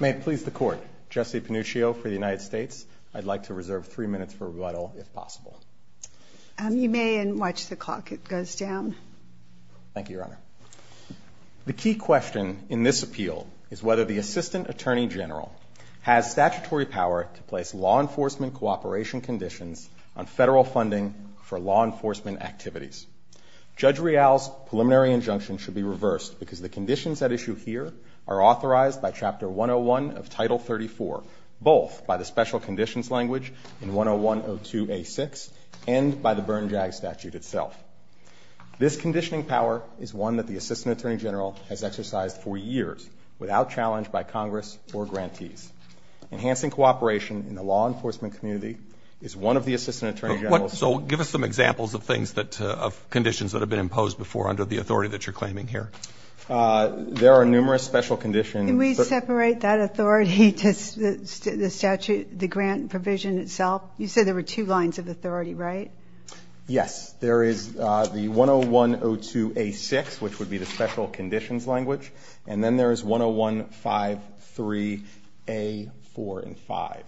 May it please the Court, Jesse Panuccio for the United States. I'd like to reserve three minutes for rebuttal, if possible. You may, and watch the clock. It goes down. Thank you, Your Honor. The key question in this appeal is whether the Assistant Attorney General has statutory power to place law enforcement cooperation conditions on federal funding for law enforcement activities. Judge Real's preliminary injunction should be reversed because the conditions at issue here are authorized by Chapter 101 of Title 34, both by the special conditions language in 101-02-A-6 and by the Burn-Jag statute itself. This conditioning power is one that the Assistant Attorney General has exercised for years without challenge by Congress or grantees. Enhancing cooperation in the law enforcement community is one of the Assistant Attorney General's— conditions that have been imposed before under the authority that you're claiming here. There are numerous special conditions— Can we separate that authority to the statute—the grant provision itself? You said there were two lines of authority, right? Yes. There is the 101-02-A-6, which would be the special conditions language, and then there is 101-53-A-4-5.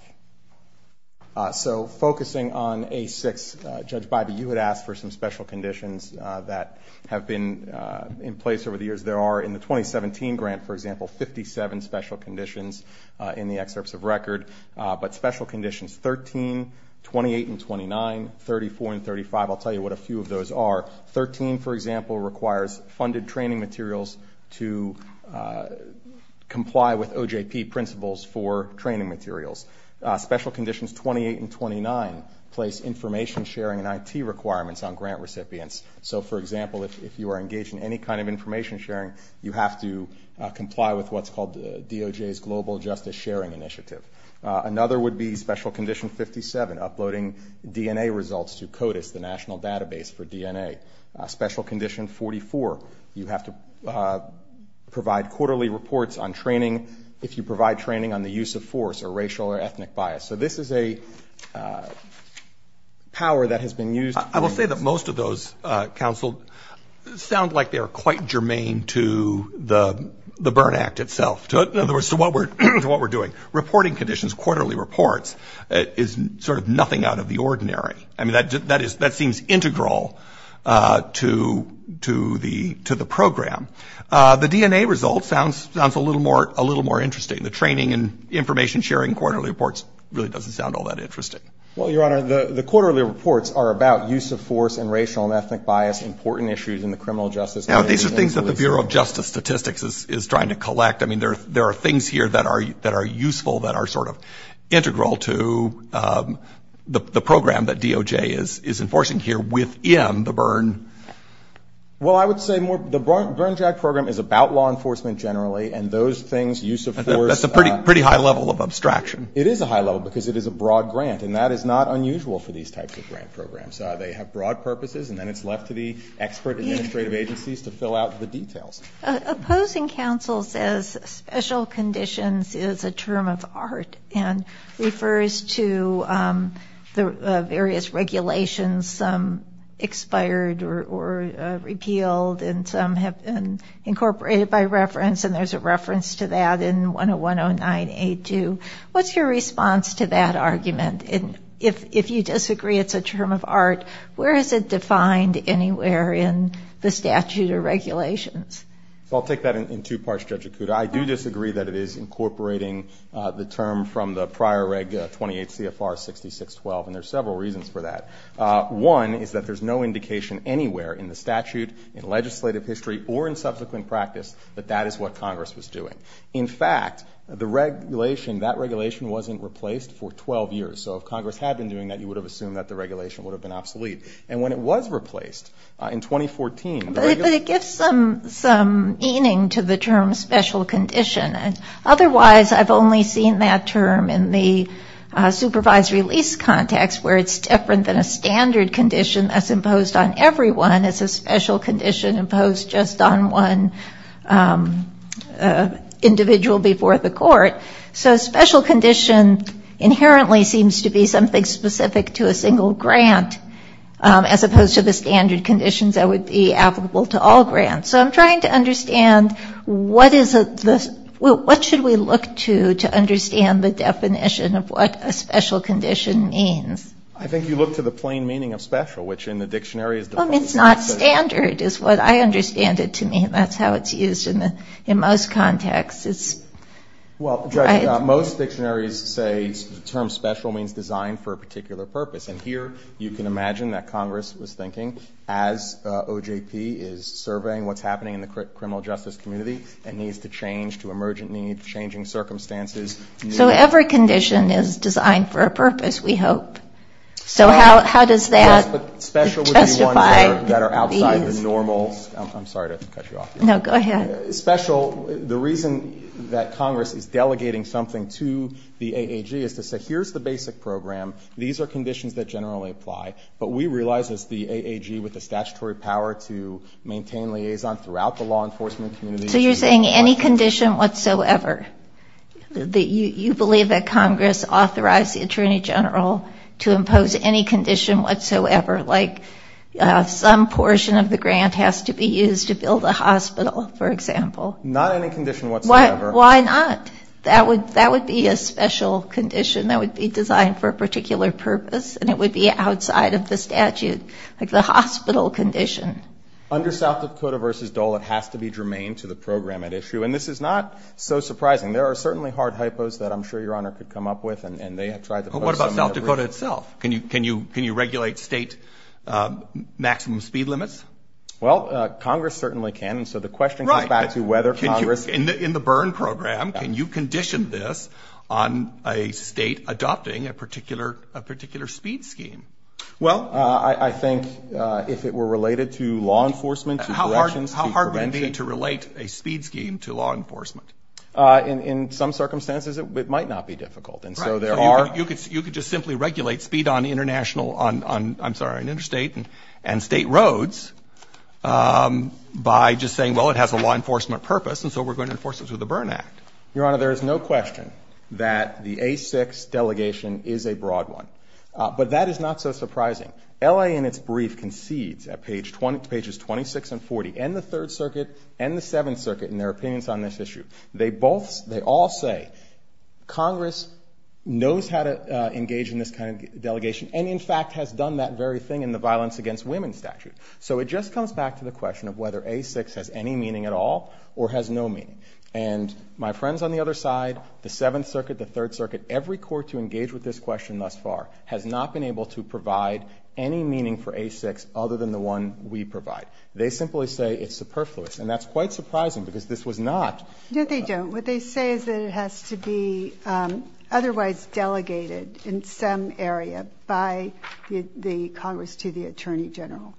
So, focusing on A-6, Judge Bybee, you had asked for some special conditions that have been in place over the years. There are in the 2017 grant, for example, 57 special conditions in the excerpts of record. But special conditions 13, 28, and 29, 34, and 35—I'll tell you what a few of those are. 13, for example, requires funded training materials to comply with OJP principles for training materials. Special conditions 28 and 29 place information sharing and IT requirements on grant recipients. So, for example, if you are engaged in any kind of information sharing, you have to comply with what's called DOJ's Global Justice Sharing Initiative. Another would be special condition 57, uploading DNA results to CODIS, the national database for DNA. Special condition 44, you have to provide quarterly reports on training if you provide training on the use of force or racial or ethnic bias. So this is a power that has been used— I will say that most of those, counsel, sound like they are quite germane to the Berne Act itself, in other words, to what we're doing. Reporting conditions, quarterly reports, is sort of nothing out of the ordinary. I mean, that seems integral to the program. The DNA results sounds a little more interesting. The training and information sharing quarterly reports really doesn't sound all that interesting. Well, Your Honor, the quarterly reports are about use of force and racial and ethnic bias, important issues in the criminal justice— Now, these are things that the Bureau of Justice Statistics is trying to collect. I mean, there are things here that are useful, that are sort of integral to the program that DOJ is enforcing here within the Berne— Well, I would say the Berne JAG program is about law enforcement generally, and those things, use of force— That's a pretty high level of abstraction. It is a high level because it is a broad grant, and that is not unusual for these types of grant programs. They have broad purposes, and then it's left to the expert administrative agencies to fill out the details. Opposing counsel says special conditions is a term of art and refers to the various regulations, some expired or repealed and some have been incorporated by reference, and there's a reference to that in 101-09-82. What's your response to that argument? And if you disagree it's a term of art, where is it defined anywhere in the statute or regulations? Well, I'll take that in two parts, Judge Akuta. I do disagree that it is incorporating the term from the prior Reg 28 CFR 66-12, and there's several reasons for that. One is that there's no indication anywhere in the statute, in legislative history, or in subsequent practice that that is what Congress was doing. In fact, the regulation, that regulation wasn't replaced for 12 years. So if Congress had been doing that, you would have assumed that the regulation would have been obsolete. And when it was replaced in 2014— But it gives some meaning to the term special condition. Otherwise, I've only seen that term in the supervisory lease context, where it's different than a standard condition that's imposed on everyone. It's a special condition imposed just on one individual before the court. So special condition inherently seems to be something specific to a single grant, as opposed to the standard conditions that would be applicable to all grants. So I'm trying to understand what is the—what should we look to to understand the definition of what a special condition means? I think you look to the plain meaning of special, which in the dictionary is defined— Well, I mean, it's not standard is what I understand it to mean. That's how it's used in most contexts. Well, Judge, most dictionaries say the term special means designed for a particular purpose. And here you can imagine that Congress was thinking as OJP is surveying what's happening in the criminal justice community, it needs to change to emergent need, changing circumstances. So every condition is designed for a purpose, we hope. So how does that justify— Yes, but special would be one that are outside the normal—I'm sorry to cut you off. No, go ahead. Special—the reason that Congress is delegating something to the AAG is to say, here's the basic program, these are conditions that generally apply, but we realize it's the AAG with the statutory power to maintain liaison throughout the law enforcement community. So you're saying any condition whatsoever, you believe that Congress authorized the Attorney General to impose any condition whatsoever, like some portion of the grant has to be used to build a hospital, for example? Not any condition whatsoever. Why not? That would be a special condition that would be designed for a particular purpose, and it would be outside of the statute, like the hospital condition. Under South Dakota v. Dole, it has to be germane to the program at issue. And this is not so surprising. There are certainly hard hypos that I'm sure Your Honor could come up with, and they have tried to— But what about South Dakota itself? Can you regulate state maximum speed limits? Well, Congress certainly can. And so the question comes back to whether Congress— In the burn program, can you condition this on a state adopting a particular speed scheme? Well, I think if it were related to law enforcement, to directions, to prevention— In some circumstances, it might not be difficult. And so there are— Right. So you could just simply regulate speed on international—I'm sorry, on interstate and state roads by just saying, well, it has a law enforcement purpose, and so we're going to enforce it through the Burn Act. Your Honor, there is no question that the A6 delegation is a broad one. But that is not so surprising. L.A. in its brief concedes at pages 26 and 40, and the Third Circuit and the Seventh They both—they all say Congress knows how to engage in this kind of delegation and, in fact, has done that very thing in the violence against women statute. So it just comes back to the question of whether A6 has any meaning at all or has no meaning. And my friends on the other side, the Seventh Circuit, the Third Circuit, every court to engage with this question thus far has not been able to provide any meaning for A6 other than the one we provide. They simply say it's superfluous. And that's quite surprising because this was not— No, they don't. What they say is that it has to be otherwise delegated in some area by the Congress to the Attorney General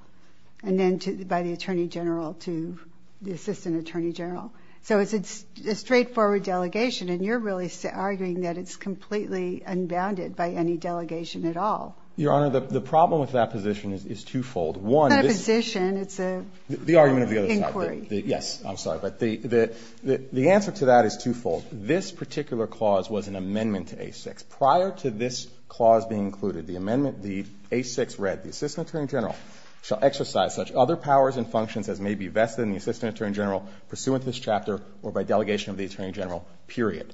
and then by the Attorney General to the Assistant Attorney General. So it's a straightforward delegation, and you're really arguing that it's completely unbounded by any delegation at all. Your Honor, the problem with that position is twofold. One, this— It's not a position. It's a inquiry. The argument of the other side. Inquiry. Yes, I'm sorry. But the answer to that is twofold. This particular clause was an amendment to A6. Prior to this clause being included, the amendment, the A6 read, The Assistant Attorney General shall exercise such other powers and functions as may be vested in the Assistant Attorney General pursuant to this chapter or by delegation of the Attorney General, period.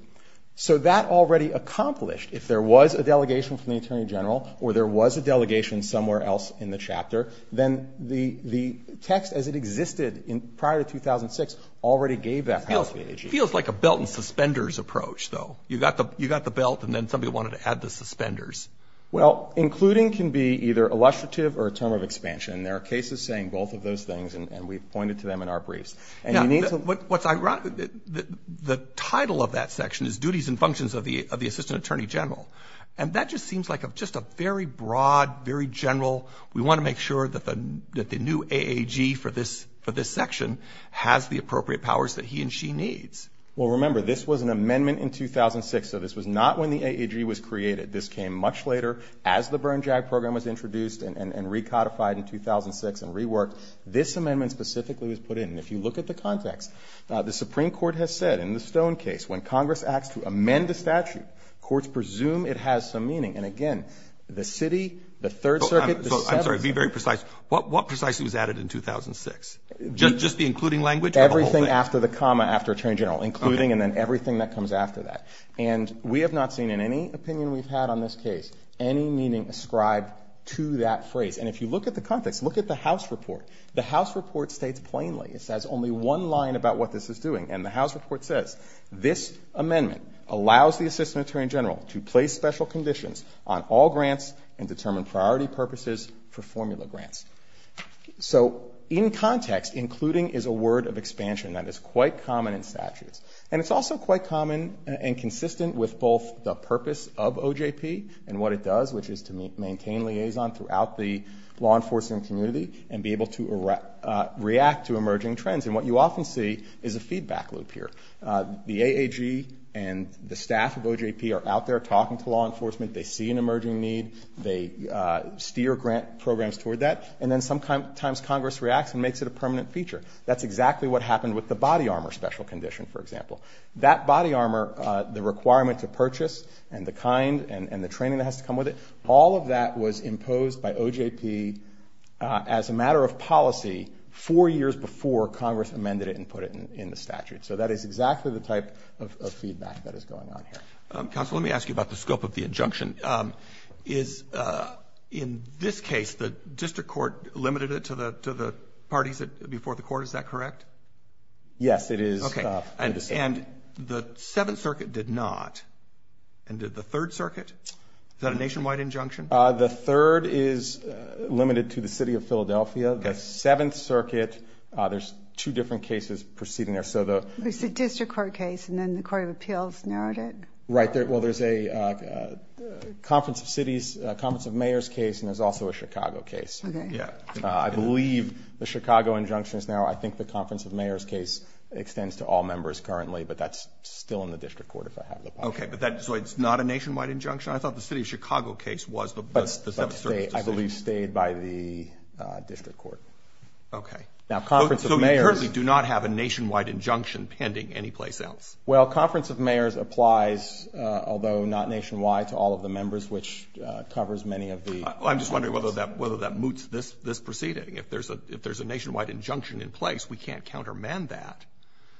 If there was a delegation from the Attorney General or there was a delegation somewhere else in the chapter, then the text as it existed prior to 2006 already gave that policy. It feels like a belt and suspenders approach, though. You got the belt and then somebody wanted to add the suspenders. Well, including can be either illustrative or a term of expansion, and there are cases saying both of those things, and we've pointed to them in our briefs. And you need to— What's ironic, the title of that section is Duties and Functions of the Assistant Attorney General. And that just seems like just a very broad, very general, we want to make sure that the new AAG for this section has the appropriate powers that he and she needs. Well, remember, this was an amendment in 2006, so this was not when the AAG was created. This came much later as the burn-jag program was introduced and recodified in 2006 and reworked. This amendment specifically was put in. And if you look at the context, the Supreme Court has said in the Stone case, when Congress acts to amend a statute, courts presume it has some meaning. And again, the City, the Third Circuit, the Seventh— I'm sorry, be very precise. What precisely was added in 2006? Just the including language or the whole thing? Everything after the comma after Attorney General, including and then everything that comes after that. And we have not seen in any opinion we've had on this case any meaning ascribed to that phrase. And if you look at the context, look at the House report. The House report states plainly, it says only one line about what this is doing. And the House report says this amendment allows the Assistant Attorney General to place special conditions on all grants and determine priority purposes for formula grants. So in context, including is a word of expansion that is quite common in statutes. And it's also quite common and consistent with both the purpose of OJP and what it does, which is to maintain liaison throughout the law enforcement community and be able to react to emerging trends. And what you often see is a feedback loop here. The AAG and the staff of OJP are out there talking to law enforcement. They see an emerging need. They steer grant programs toward that. And then sometimes Congress reacts and makes it a permanent feature. That's exactly what happened with the body armor special condition, for example. That body armor, the requirement to purchase and the kind and the training that has to come with it, all of that was imposed by OJP as a matter of policy four years before Congress amended it and put it in the statute. So that is exactly the type of feedback that is going on here. Counsel, let me ask you about the scope of the injunction. In this case, the district court limited it to the parties before the court. Is that correct? Yes, it is. And the Seventh Circuit did not. And did the Third Circuit? Is that a nationwide injunction? The Third is limited to the city of Philadelphia. The Seventh Circuit, there's two different cases proceeding there. It's the district court case, and then the Court of Appeals narrowed it? Right. Well, there's a Conference of Mayors case, and there's also a Chicago case. Okay. I believe the Chicago injunction is now I think the Conference of Mayors case extends to all members currently, but that's still in the district court if I have the possibility. Okay. So it's not a nationwide injunction? I thought the city of Chicago case was the Seventh Circuit's decision. I believe stayed by the district court. Okay. So we currently do not have a nationwide injunction pending anyplace else? Well, Conference of Mayors applies, although not nationwide, to all of the members, which covers many of the parties. I'm just wondering whether that moots this proceeding. If there's a nationwide injunction in place, we can't countermand that.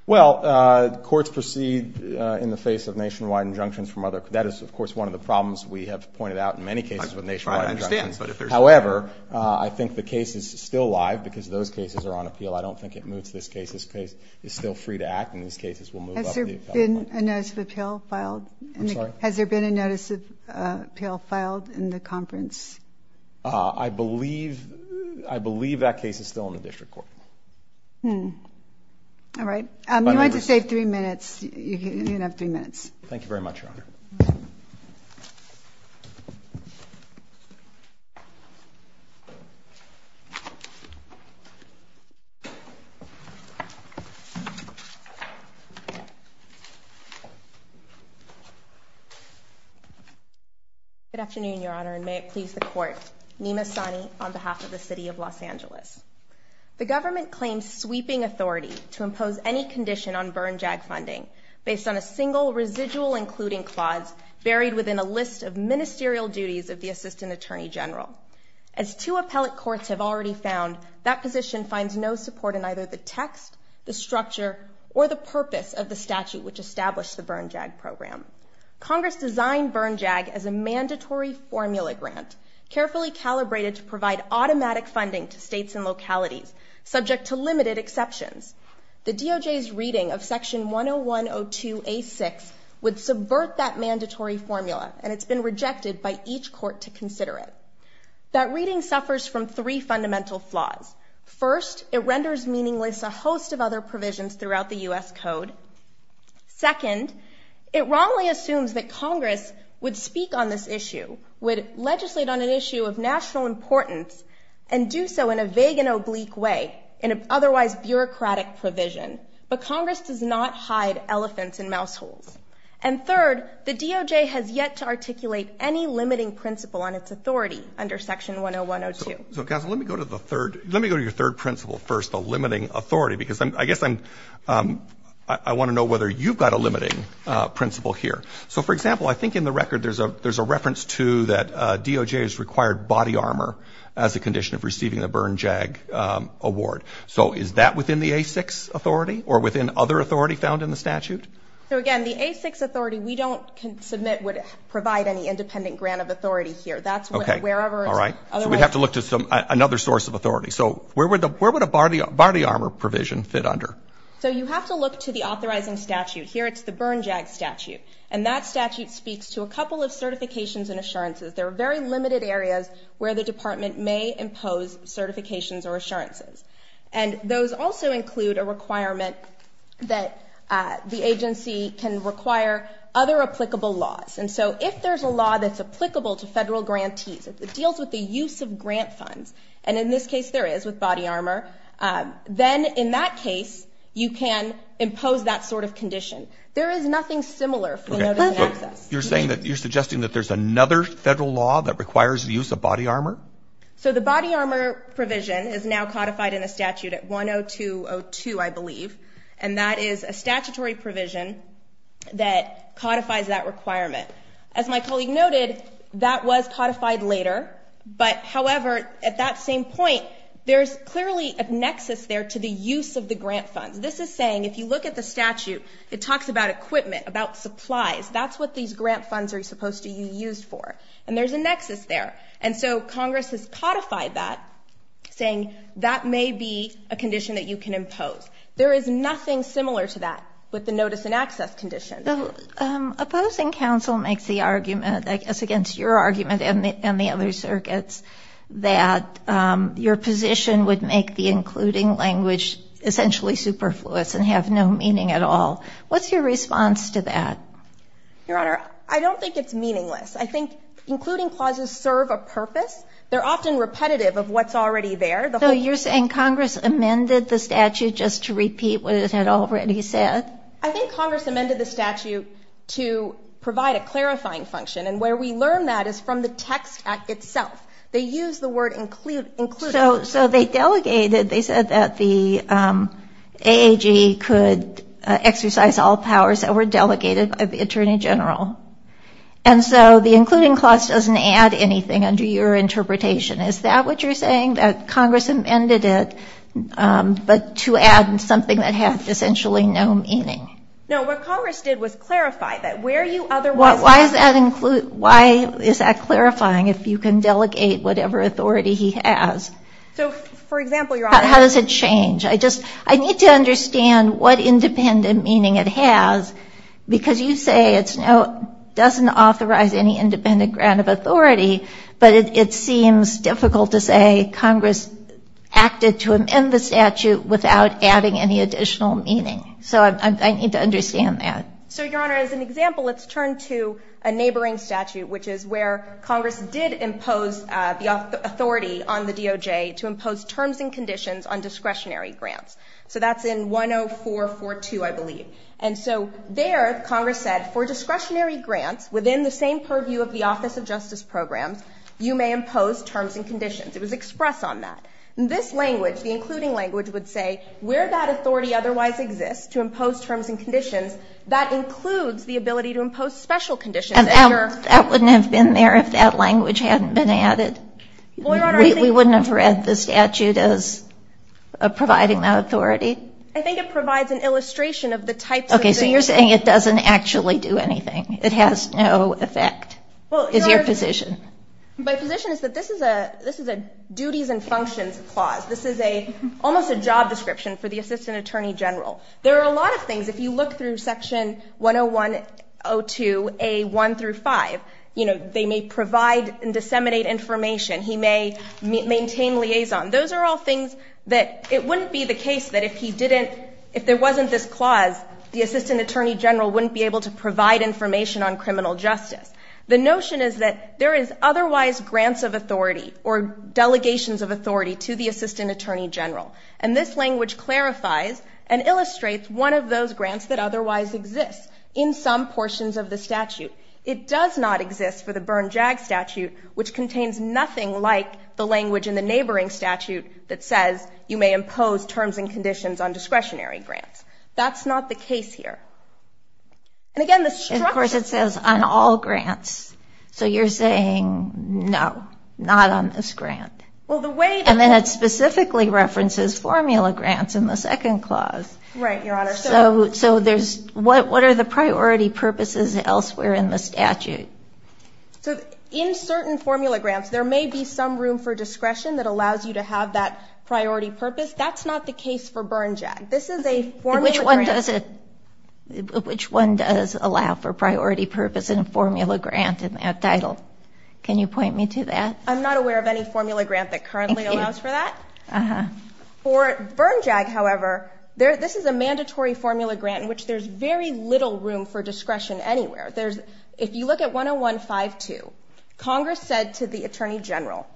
Well, courts proceed in the face of nationwide injunctions from other courts. That is, of course, one of the problems we have pointed out in many cases with nationwide injunctions. I understand. However, I think the case is still live because those cases are on appeal. I don't think it moots this case. This case is still free to act, and these cases will move up. Has there been a notice of appeal filed? I'm sorry? Has there been a notice of appeal filed in the conference? I believe that case is still in the district court. All right. Thank you very much, Your Honor. Thank you, Your Honor. Good afternoon, Your Honor, and may it please the Court. Nima Sani on behalf of the City of Los Angeles. The government claims sweeping authority to impose any condition on burn-jag funding based on a single residual including clause buried within a list of ministerial duties of the Assistant Attorney General. As two appellate courts have already found, that position finds no support in either the text, the structure, or the purpose of the statute which established the burn-jag program. Congress designed burn-jag as a mandatory formula grant carefully calibrated to provide automatic funding to states and localities, subject to limited exceptions. The DOJ's reading of Section 101-02-A-6 would subvert that mandatory formula and it's been rejected by each court to consider it. That reading suffers from three fundamental flaws. First, it renders meaningless a host of other provisions throughout the U.S. Code. Second, it wrongly assumes that Congress would speak on this issue, would legislate on an issue of national importance, and do so in a vague and oblique way, in an otherwise bureaucratic provision. But Congress does not hide elephants in mouse holes. And third, the DOJ has yet to articulate any limiting principle on its authority under Section 101-02. So Cass, let me go to the third, let me go to your third principle first, the limiting authority, because I guess I'm, I want to know whether you've got a limiting principle here. So for example, I think in the record there's a reference to that as a condition of receiving the Bern JAG award. So is that within the A-6 authority or within other authority found in the statute? So again, the A-6 authority, we don't submit, would provide any independent grant of authority here. Okay, all right, so we'd have to look to another source of authority. So where would a body armor provision fit under? So you have to look to the authorizing statute. Here it's the Bern JAG statute, and that statute speaks to a couple of certifications and assurances. There are very limited areas where the department may impose certifications or assurances, and those also include a requirement that the agency can require other applicable laws. And so if there's a law that's applicable to federal grantees, it deals with the use of grant funds, and in this case there is with body armor, then in that case you can impose that sort of condition. There is nothing similar for the notice of access. You're suggesting that there's another federal law that requires the use of body armor? So the body armor provision is now codified in the statute at 102.02, I believe, and that is a statutory provision that codifies that requirement. As my colleague noted, that was codified later, but however at that same point there's clearly a nexus there to the use of the grant funds. This is saying if you look at the statute, it talks about equipment, about supplies. That's what these grant funds are supposed to be used for, and there's a nexus there. And so Congress has codified that, saying that may be a condition that you can impose. There is nothing similar to that with the notice and access condition. Opposing counsel makes the argument, I guess against your argument and the other circuits, that your position would make the including language essentially superfluous and have no meaning at all. What's your response to that? Your Honor, I don't think it's meaningless. I think including clauses serve a purpose. They're often repetitive of what's already there. So you're saying Congress amended the statute just to repeat what it had already said? I think Congress amended the statute to provide a clarifying function, and where we learn that is from the text act itself. They use the word include. So they delegated, they said that the AAG could exercise all powers that were delegated by the Attorney General. And so the including clause doesn't add anything under your interpretation. Is that what you're saying, that Congress amended it, but to add something that had essentially no meaning? No, what Congress did was clarify that where you otherwise have to include. Why is that clarifying if you can delegate whatever authority he has? So, for example, Your Honor. How does it change? I need to understand what independent meaning it has, because you say it doesn't authorize any independent grant of authority, but it seems difficult to say Congress acted to amend the statute without adding any additional meaning. So I need to understand that. So, Your Honor, as an example, let's turn to a neighboring statute, which is where Congress did impose the authority on the DOJ to impose terms and conditions on discretionary grants. So that's in 10442, I believe. And so there Congress said for discretionary grants within the same purview of the Office of Justice Programs, you may impose terms and conditions. It was expressed on that. In this language, the including language would say where that authority otherwise exists to impose terms and conditions, that includes the ability to impose special conditions. That wouldn't have been there if that language hadn't been added. We wouldn't have read the statute as providing that authority. I think it provides an illustration of the types of things. Okay, so you're saying it doesn't actually do anything. It has no effect, is your position. My position is that this is a duties and functions clause. This is almost a job description for the Assistant Attorney General. There are a lot of things. If you look through Section 10102A1 through 5, they may provide and disseminate information. He may maintain liaison. Those are all things that it wouldn't be the case that if he didn't, if there wasn't this clause, the Assistant Attorney General wouldn't be able to provide information on criminal justice. The notion is that there is otherwise grants of authority or delegations of authority to the Assistant Attorney General. And this language clarifies and illustrates one of those grants that otherwise exists in some portions of the statute. It does not exist for the Berne-Jagg statute, which contains nothing like the language in the neighboring statute that says you may impose terms and conditions on discretionary grants. That's not the case here. And, again, the structure... And, of course, it says on all grants. So you're saying, no, not on this grant. And then it specifically references formula grants in the second clause. Right, Your Honor. So what are the priority purposes elsewhere in the statute? So in certain formula grants, there may be some room for discretion that allows you to have that priority purpose. That's not the case for Berne-Jagg. This is a formula grant. Which one does allow for priority purpose in a formula grant in that title? Can you point me to that? I'm not aware of any formula grant that currently allows for that. For Berne-Jagg, however, this is a mandatory formula grant in which there's very little room for discretion anywhere. If you look at 101-5-2, Congress said to the Attorney General,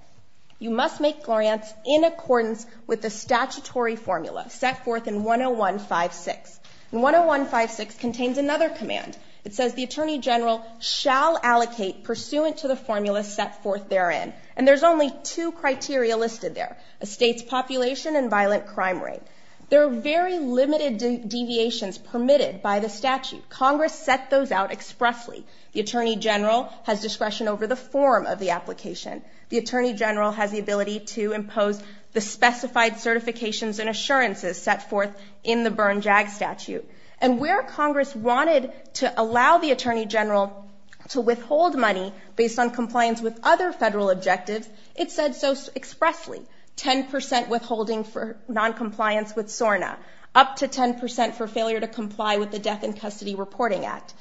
you must make grants in accordance with the statutory formula set forth in 101-5-6. And 101-5-6 contains another command. It says the Attorney General shall allocate pursuant to the formula set forth therein. And there's only two criteria listed there, a state's population and violent crime rate. There are very limited deviations permitted by the statute. Congress set those out expressly. The Attorney General has discretion over the form of the application. The Attorney General has the ability to impose the specified certifications and assurances set forth in the Berne-Jagg statute. And where Congress wanted to allow the Attorney General to withhold money based on compliance with other federal objectives, it said so expressly, 10% withholding for noncompliance with SORNA, up to 10% for failure to comply with the Death in Custody Reporting Act.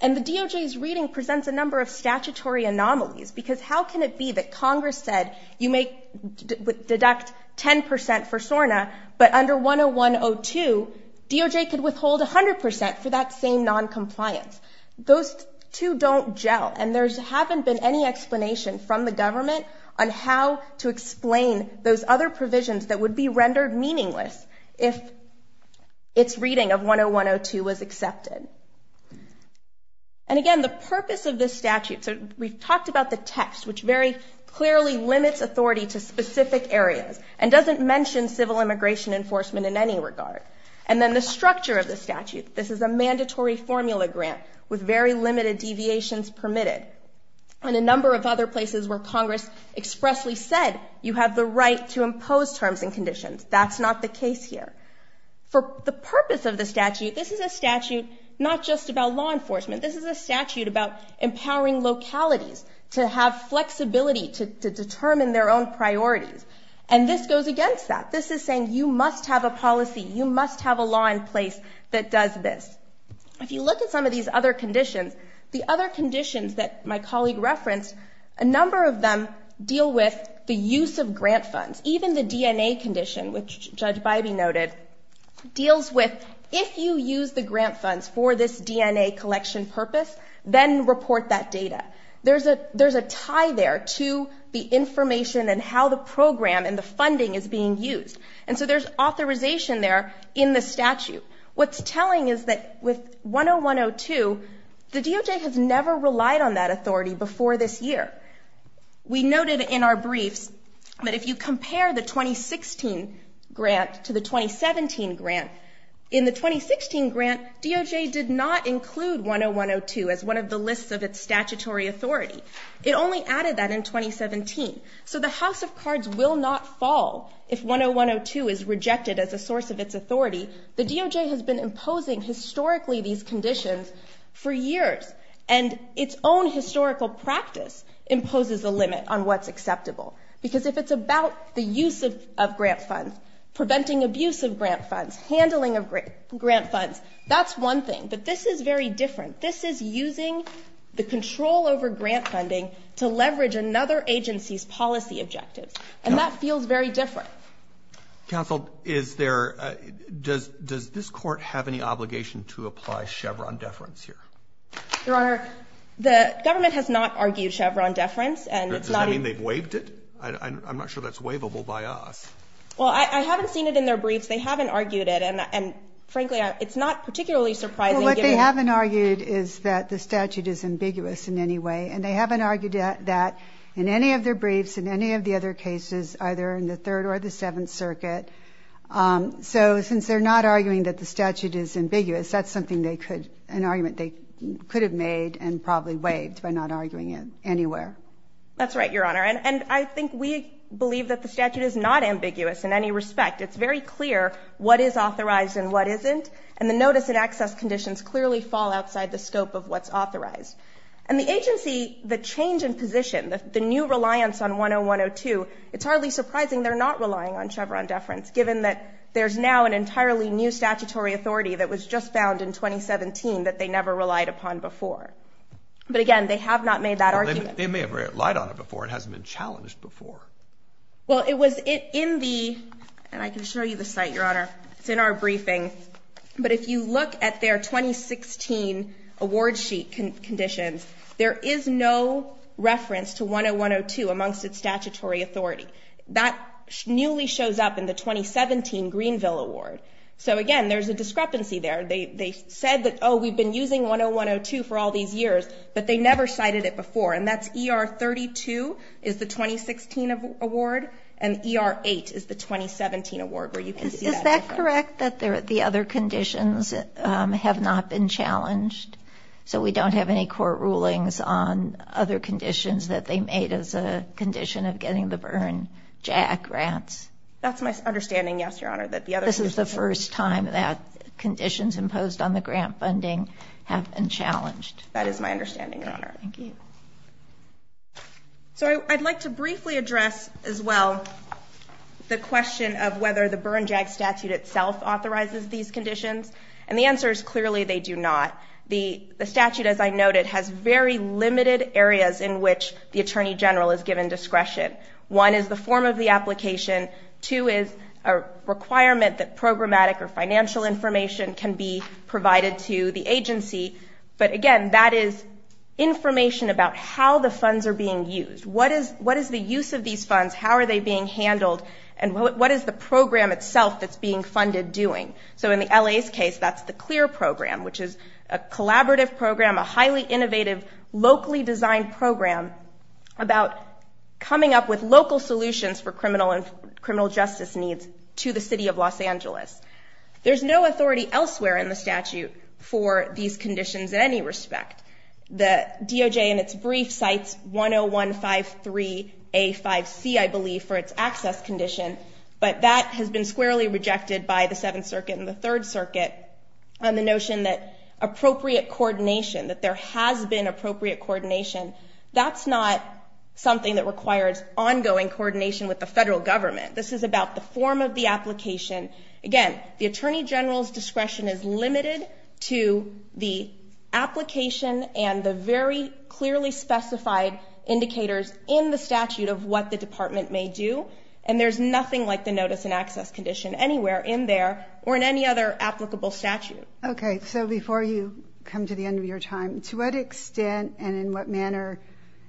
And the DOJ's reading presents a number of statutory anomalies because how can it be that Congress said you may deduct 10% for SORNA, but under 101-02, DOJ could withhold 100% for that same noncompliance? Those two don't gel. And there hasn't been any explanation from the government on how to explain those other provisions that would be rendered meaningless if its reading of 101-02 was accepted. And again, the purpose of this statute, so we've talked about the text, which very clearly limits authority to specific areas and doesn't mention civil immigration enforcement in any regard. And then the structure of the statute. This is a mandatory formula grant with very limited deviations permitted. And a number of other places where Congress expressly said you have the right to impose terms and conditions. That's not the case here. For the purpose of the statute, this is a statute not just about law enforcement. This is a statute about empowering localities to have flexibility to determine their own priorities. And this goes against that. This is saying you must have a policy. You must have a law in place that does this. If you look at some of these other conditions, the other conditions that my colleague referenced, a number of them deal with the use of grant funds. Even the DNA condition, which Judge Bybee noted, deals with if you use the grant funds for this DNA collection purpose, then report that data. There's a tie there to the information and how the program and the funding is being used. And so there's authorization there in the statute. What's telling is that with 10102, the DOJ has never relied on that authority before this year. We noted in our briefs that if you compare the 2016 grant to the 2017 grant, in the 2016 grant, DOJ did not include 10102 as one of the lists of its statutory authority. It only added that in 2017. So the House of Cards will not fall if 10102 is rejected as a source of its authority. The DOJ has been imposing historically these conditions for years, and its own historical practice imposes a limit on what's acceptable. Because if it's about the use of grant funds, preventing abuse of grant funds, handling of grant funds, that's one thing. But this is very different. This is using the control over grant funding to leverage another agency's policy objectives. And that feels very different. Counsel, is there – does this court have any obligation to apply Chevron deference here? Your Honor, the government has not argued Chevron deference. Does that mean they've waived it? I'm not sure that's waivable by us. Well, I haven't seen it in their briefs. They haven't argued it. And frankly, it's not particularly surprising. Well, what they haven't argued is that the statute is ambiguous in any way. And they haven't argued that in any of their briefs, in any of the other cases, either in the Third or the Seventh Circuit. So since they're not arguing that the statute is ambiguous, that's something they could – an argument they could have made and probably waived by not arguing it anywhere. That's right, Your Honor. And I think we believe that the statute is not ambiguous in any respect. It's very clear what is authorized and what isn't. And the notice and access conditions clearly fall outside the scope of what's authorized. And the agency, the change in position, the new reliance on 101-02, it's hardly surprising they're not relying on Chevron deference given that there's now an entirely new statutory authority that was just found in 2017 that they never relied upon before. But again, they have not made that argument. They may have relied on it before. It hasn't been challenged before. It's in our briefing. But if you look at their 2016 award sheet conditions, there is no reference to 101-02 amongst its statutory authority. That newly shows up in the 2017 Greenville award. So again, there's a discrepancy there. They said that, oh, we've been using 101-02 for all these years, but they never cited it before. And that's ER-32 is the 2016 award and ER-8 is the 2017 award where you can see that difference. Is that correct that the other conditions have not been challenged? So we don't have any court rulings on other conditions that they made as a condition of getting the Byrne JAC grants? That's my understanding, yes, Your Honor. This is the first time that conditions imposed on the grant funding have been challenged. That is my understanding, Your Honor. Thank you. So I'd like to briefly address as well the question of whether the Byrne JAC statute itself authorizes these conditions. And the answer is clearly they do not. The statute, as I noted, has very limited areas in which the Attorney General is given discretion. One is the form of the application. Two is a requirement that programmatic or financial information can be provided to the agency. But, again, that is information about how the funds are being used. What is the use of these funds? How are they being handled? And what is the program itself that's being funded doing? So in the LA's case, that's the CLEAR program, which is a collaborative program, a highly innovative, locally designed program about coming up with local solutions for criminal justice needs to the city of Los Angeles. There's no authority elsewhere in the statute for these conditions in any respect. The DOJ in its brief cites 10153A5C, I believe, for its access condition, but that has been squarely rejected by the Seventh Circuit and the Third Circuit on the notion that appropriate coordination, that there has been appropriate coordination, that's not something that requires ongoing coordination with the federal government. This is about the form of the application. Again, the Attorney General's discretion is limited to the application and the very clearly specified indicators in the statute of what the department may do, and there's nothing like the notice and access condition anywhere in there or in any other applicable statute. Okay, so before you come to the end of your time, to what extent and in what manner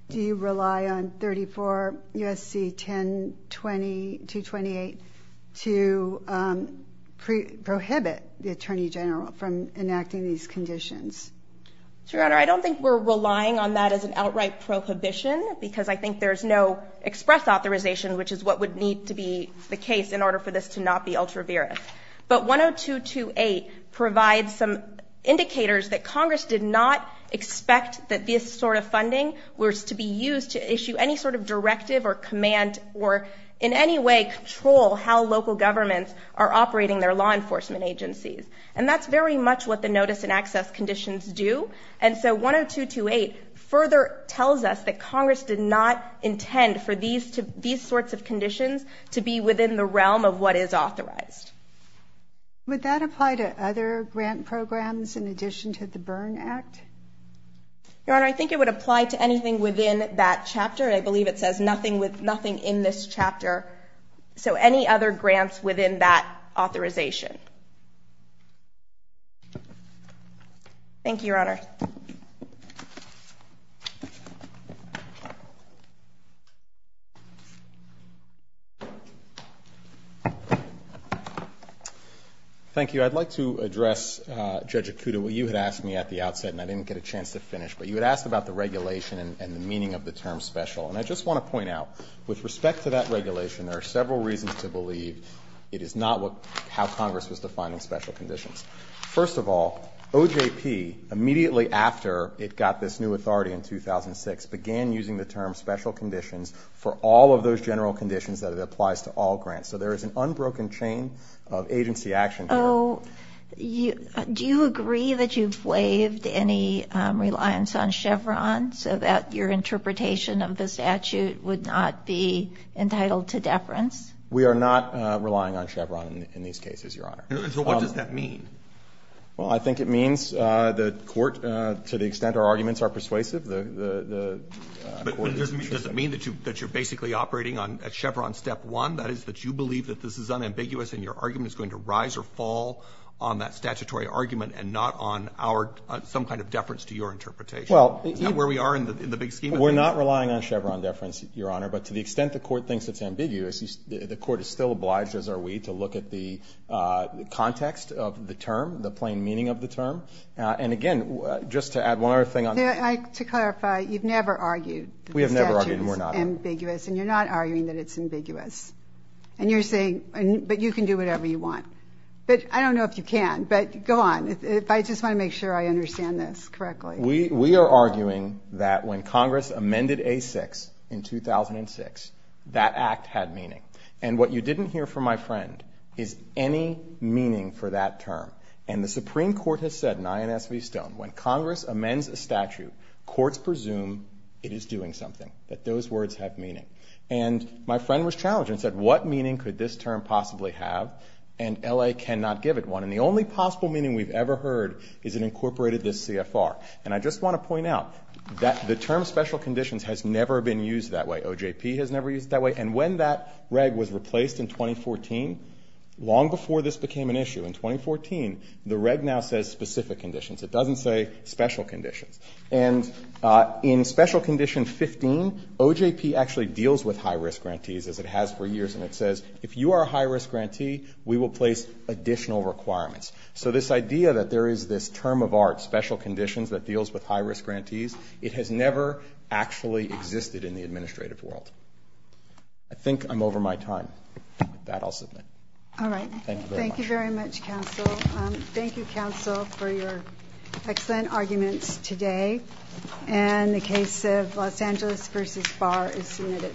do you rely on 34 U.S.C. 10228 to prohibit the Attorney General from enacting these conditions? Your Honor, I don't think we're relying on that as an outright prohibition because I think there's no express authorization, which is what would need to be the case in order for this to not be ultraviolet. But 10228 provides some indicators that Congress did not expect that this sort of funding was to be used to issue any sort of directive or command or in any way control how local governments are operating their law enforcement agencies. And that's very much what the notice and access conditions do, and so 10228 further tells us that Congress did not intend for these sorts of conditions to be within the realm of what is authorized. Would that apply to other grant programs in addition to the Byrne Act? Your Honor, I think it would apply to anything within that chapter. I believe it says nothing in this chapter, so any other grants within that authorization. Thank you, Your Honor. Thank you. I'd like to address, Judge Akuta, what you had asked me at the outset and I didn't get a chance to finish, but you had asked about the regulation and the meaning of the term special. And I just want to point out, with respect to that regulation, there are several reasons to believe it is not how Congress was defining special conditions. First of all, OJP, immediately after it got this new authority in 2006, began using the term special conditions for all of those general conditions that it applies to all grants. So there is an unbroken chain of agency action here. Do you agree that you've waived any reliance on Chevron so that your interpretation of the statute would not be entitled to deference? We are not relying on Chevron in these cases, Your Honor. So what does that mean? Well, I think it means the Court, to the extent our arguments are persuasive, the Court is interested. But does it mean that you're basically operating on Chevron step one, that is that you believe that this is unambiguous and your argument is going to rise or fall on that statutory argument and not on some kind of deference to your interpretation? Not where we are in the big scheme of things. We're not relying on Chevron deference, Your Honor. But to the extent the Court thinks it's ambiguous, the Court is still obliged, as are we, to look at the context of the term, the plain meaning of the term. And again, just to add one other thing on this. To clarify, you've never argued that the statute is ambiguous. We have never argued, and we're not. And you're not arguing that it's ambiguous. And you're saying, but you can do whatever you want. But I don't know if you can. But go on. I just want to make sure I understand this correctly. We are arguing that when Congress amended A-6 in 2006, that act had meaning. And what you didn't hear from my friend is any meaning for that term. And the Supreme Court has said in INS v. Stone, when Congress amends a statute, courts presume it is doing something, that those words have meaning. And my friend was challenged and said, what meaning could this term possibly have? And L.A. cannot give it one. And the only possible meaning we've ever heard is it incorporated this CFR. And I just want to point out that the term special conditions has never been used that way. OJP has never used it that way. And when that reg was replaced in 2014, long before this became an issue, in 2014, the reg now says specific conditions. It doesn't say special conditions. And in Special Condition 15, OJP actually deals with high-risk grantees, as it has for years, and it says, if you are a high-risk grantee, we will place additional requirements. So this idea that there is this term of art, special conditions, that deals with high-risk grantees, it has never actually existed in the administrative world. I think I'm over my time. With that, I'll submit. All right. Thank you very much. Thank you very much, Counsel. Thank you, Counsel, for your excellent arguments today. And the case of Los Angeles v. Barr is submitted.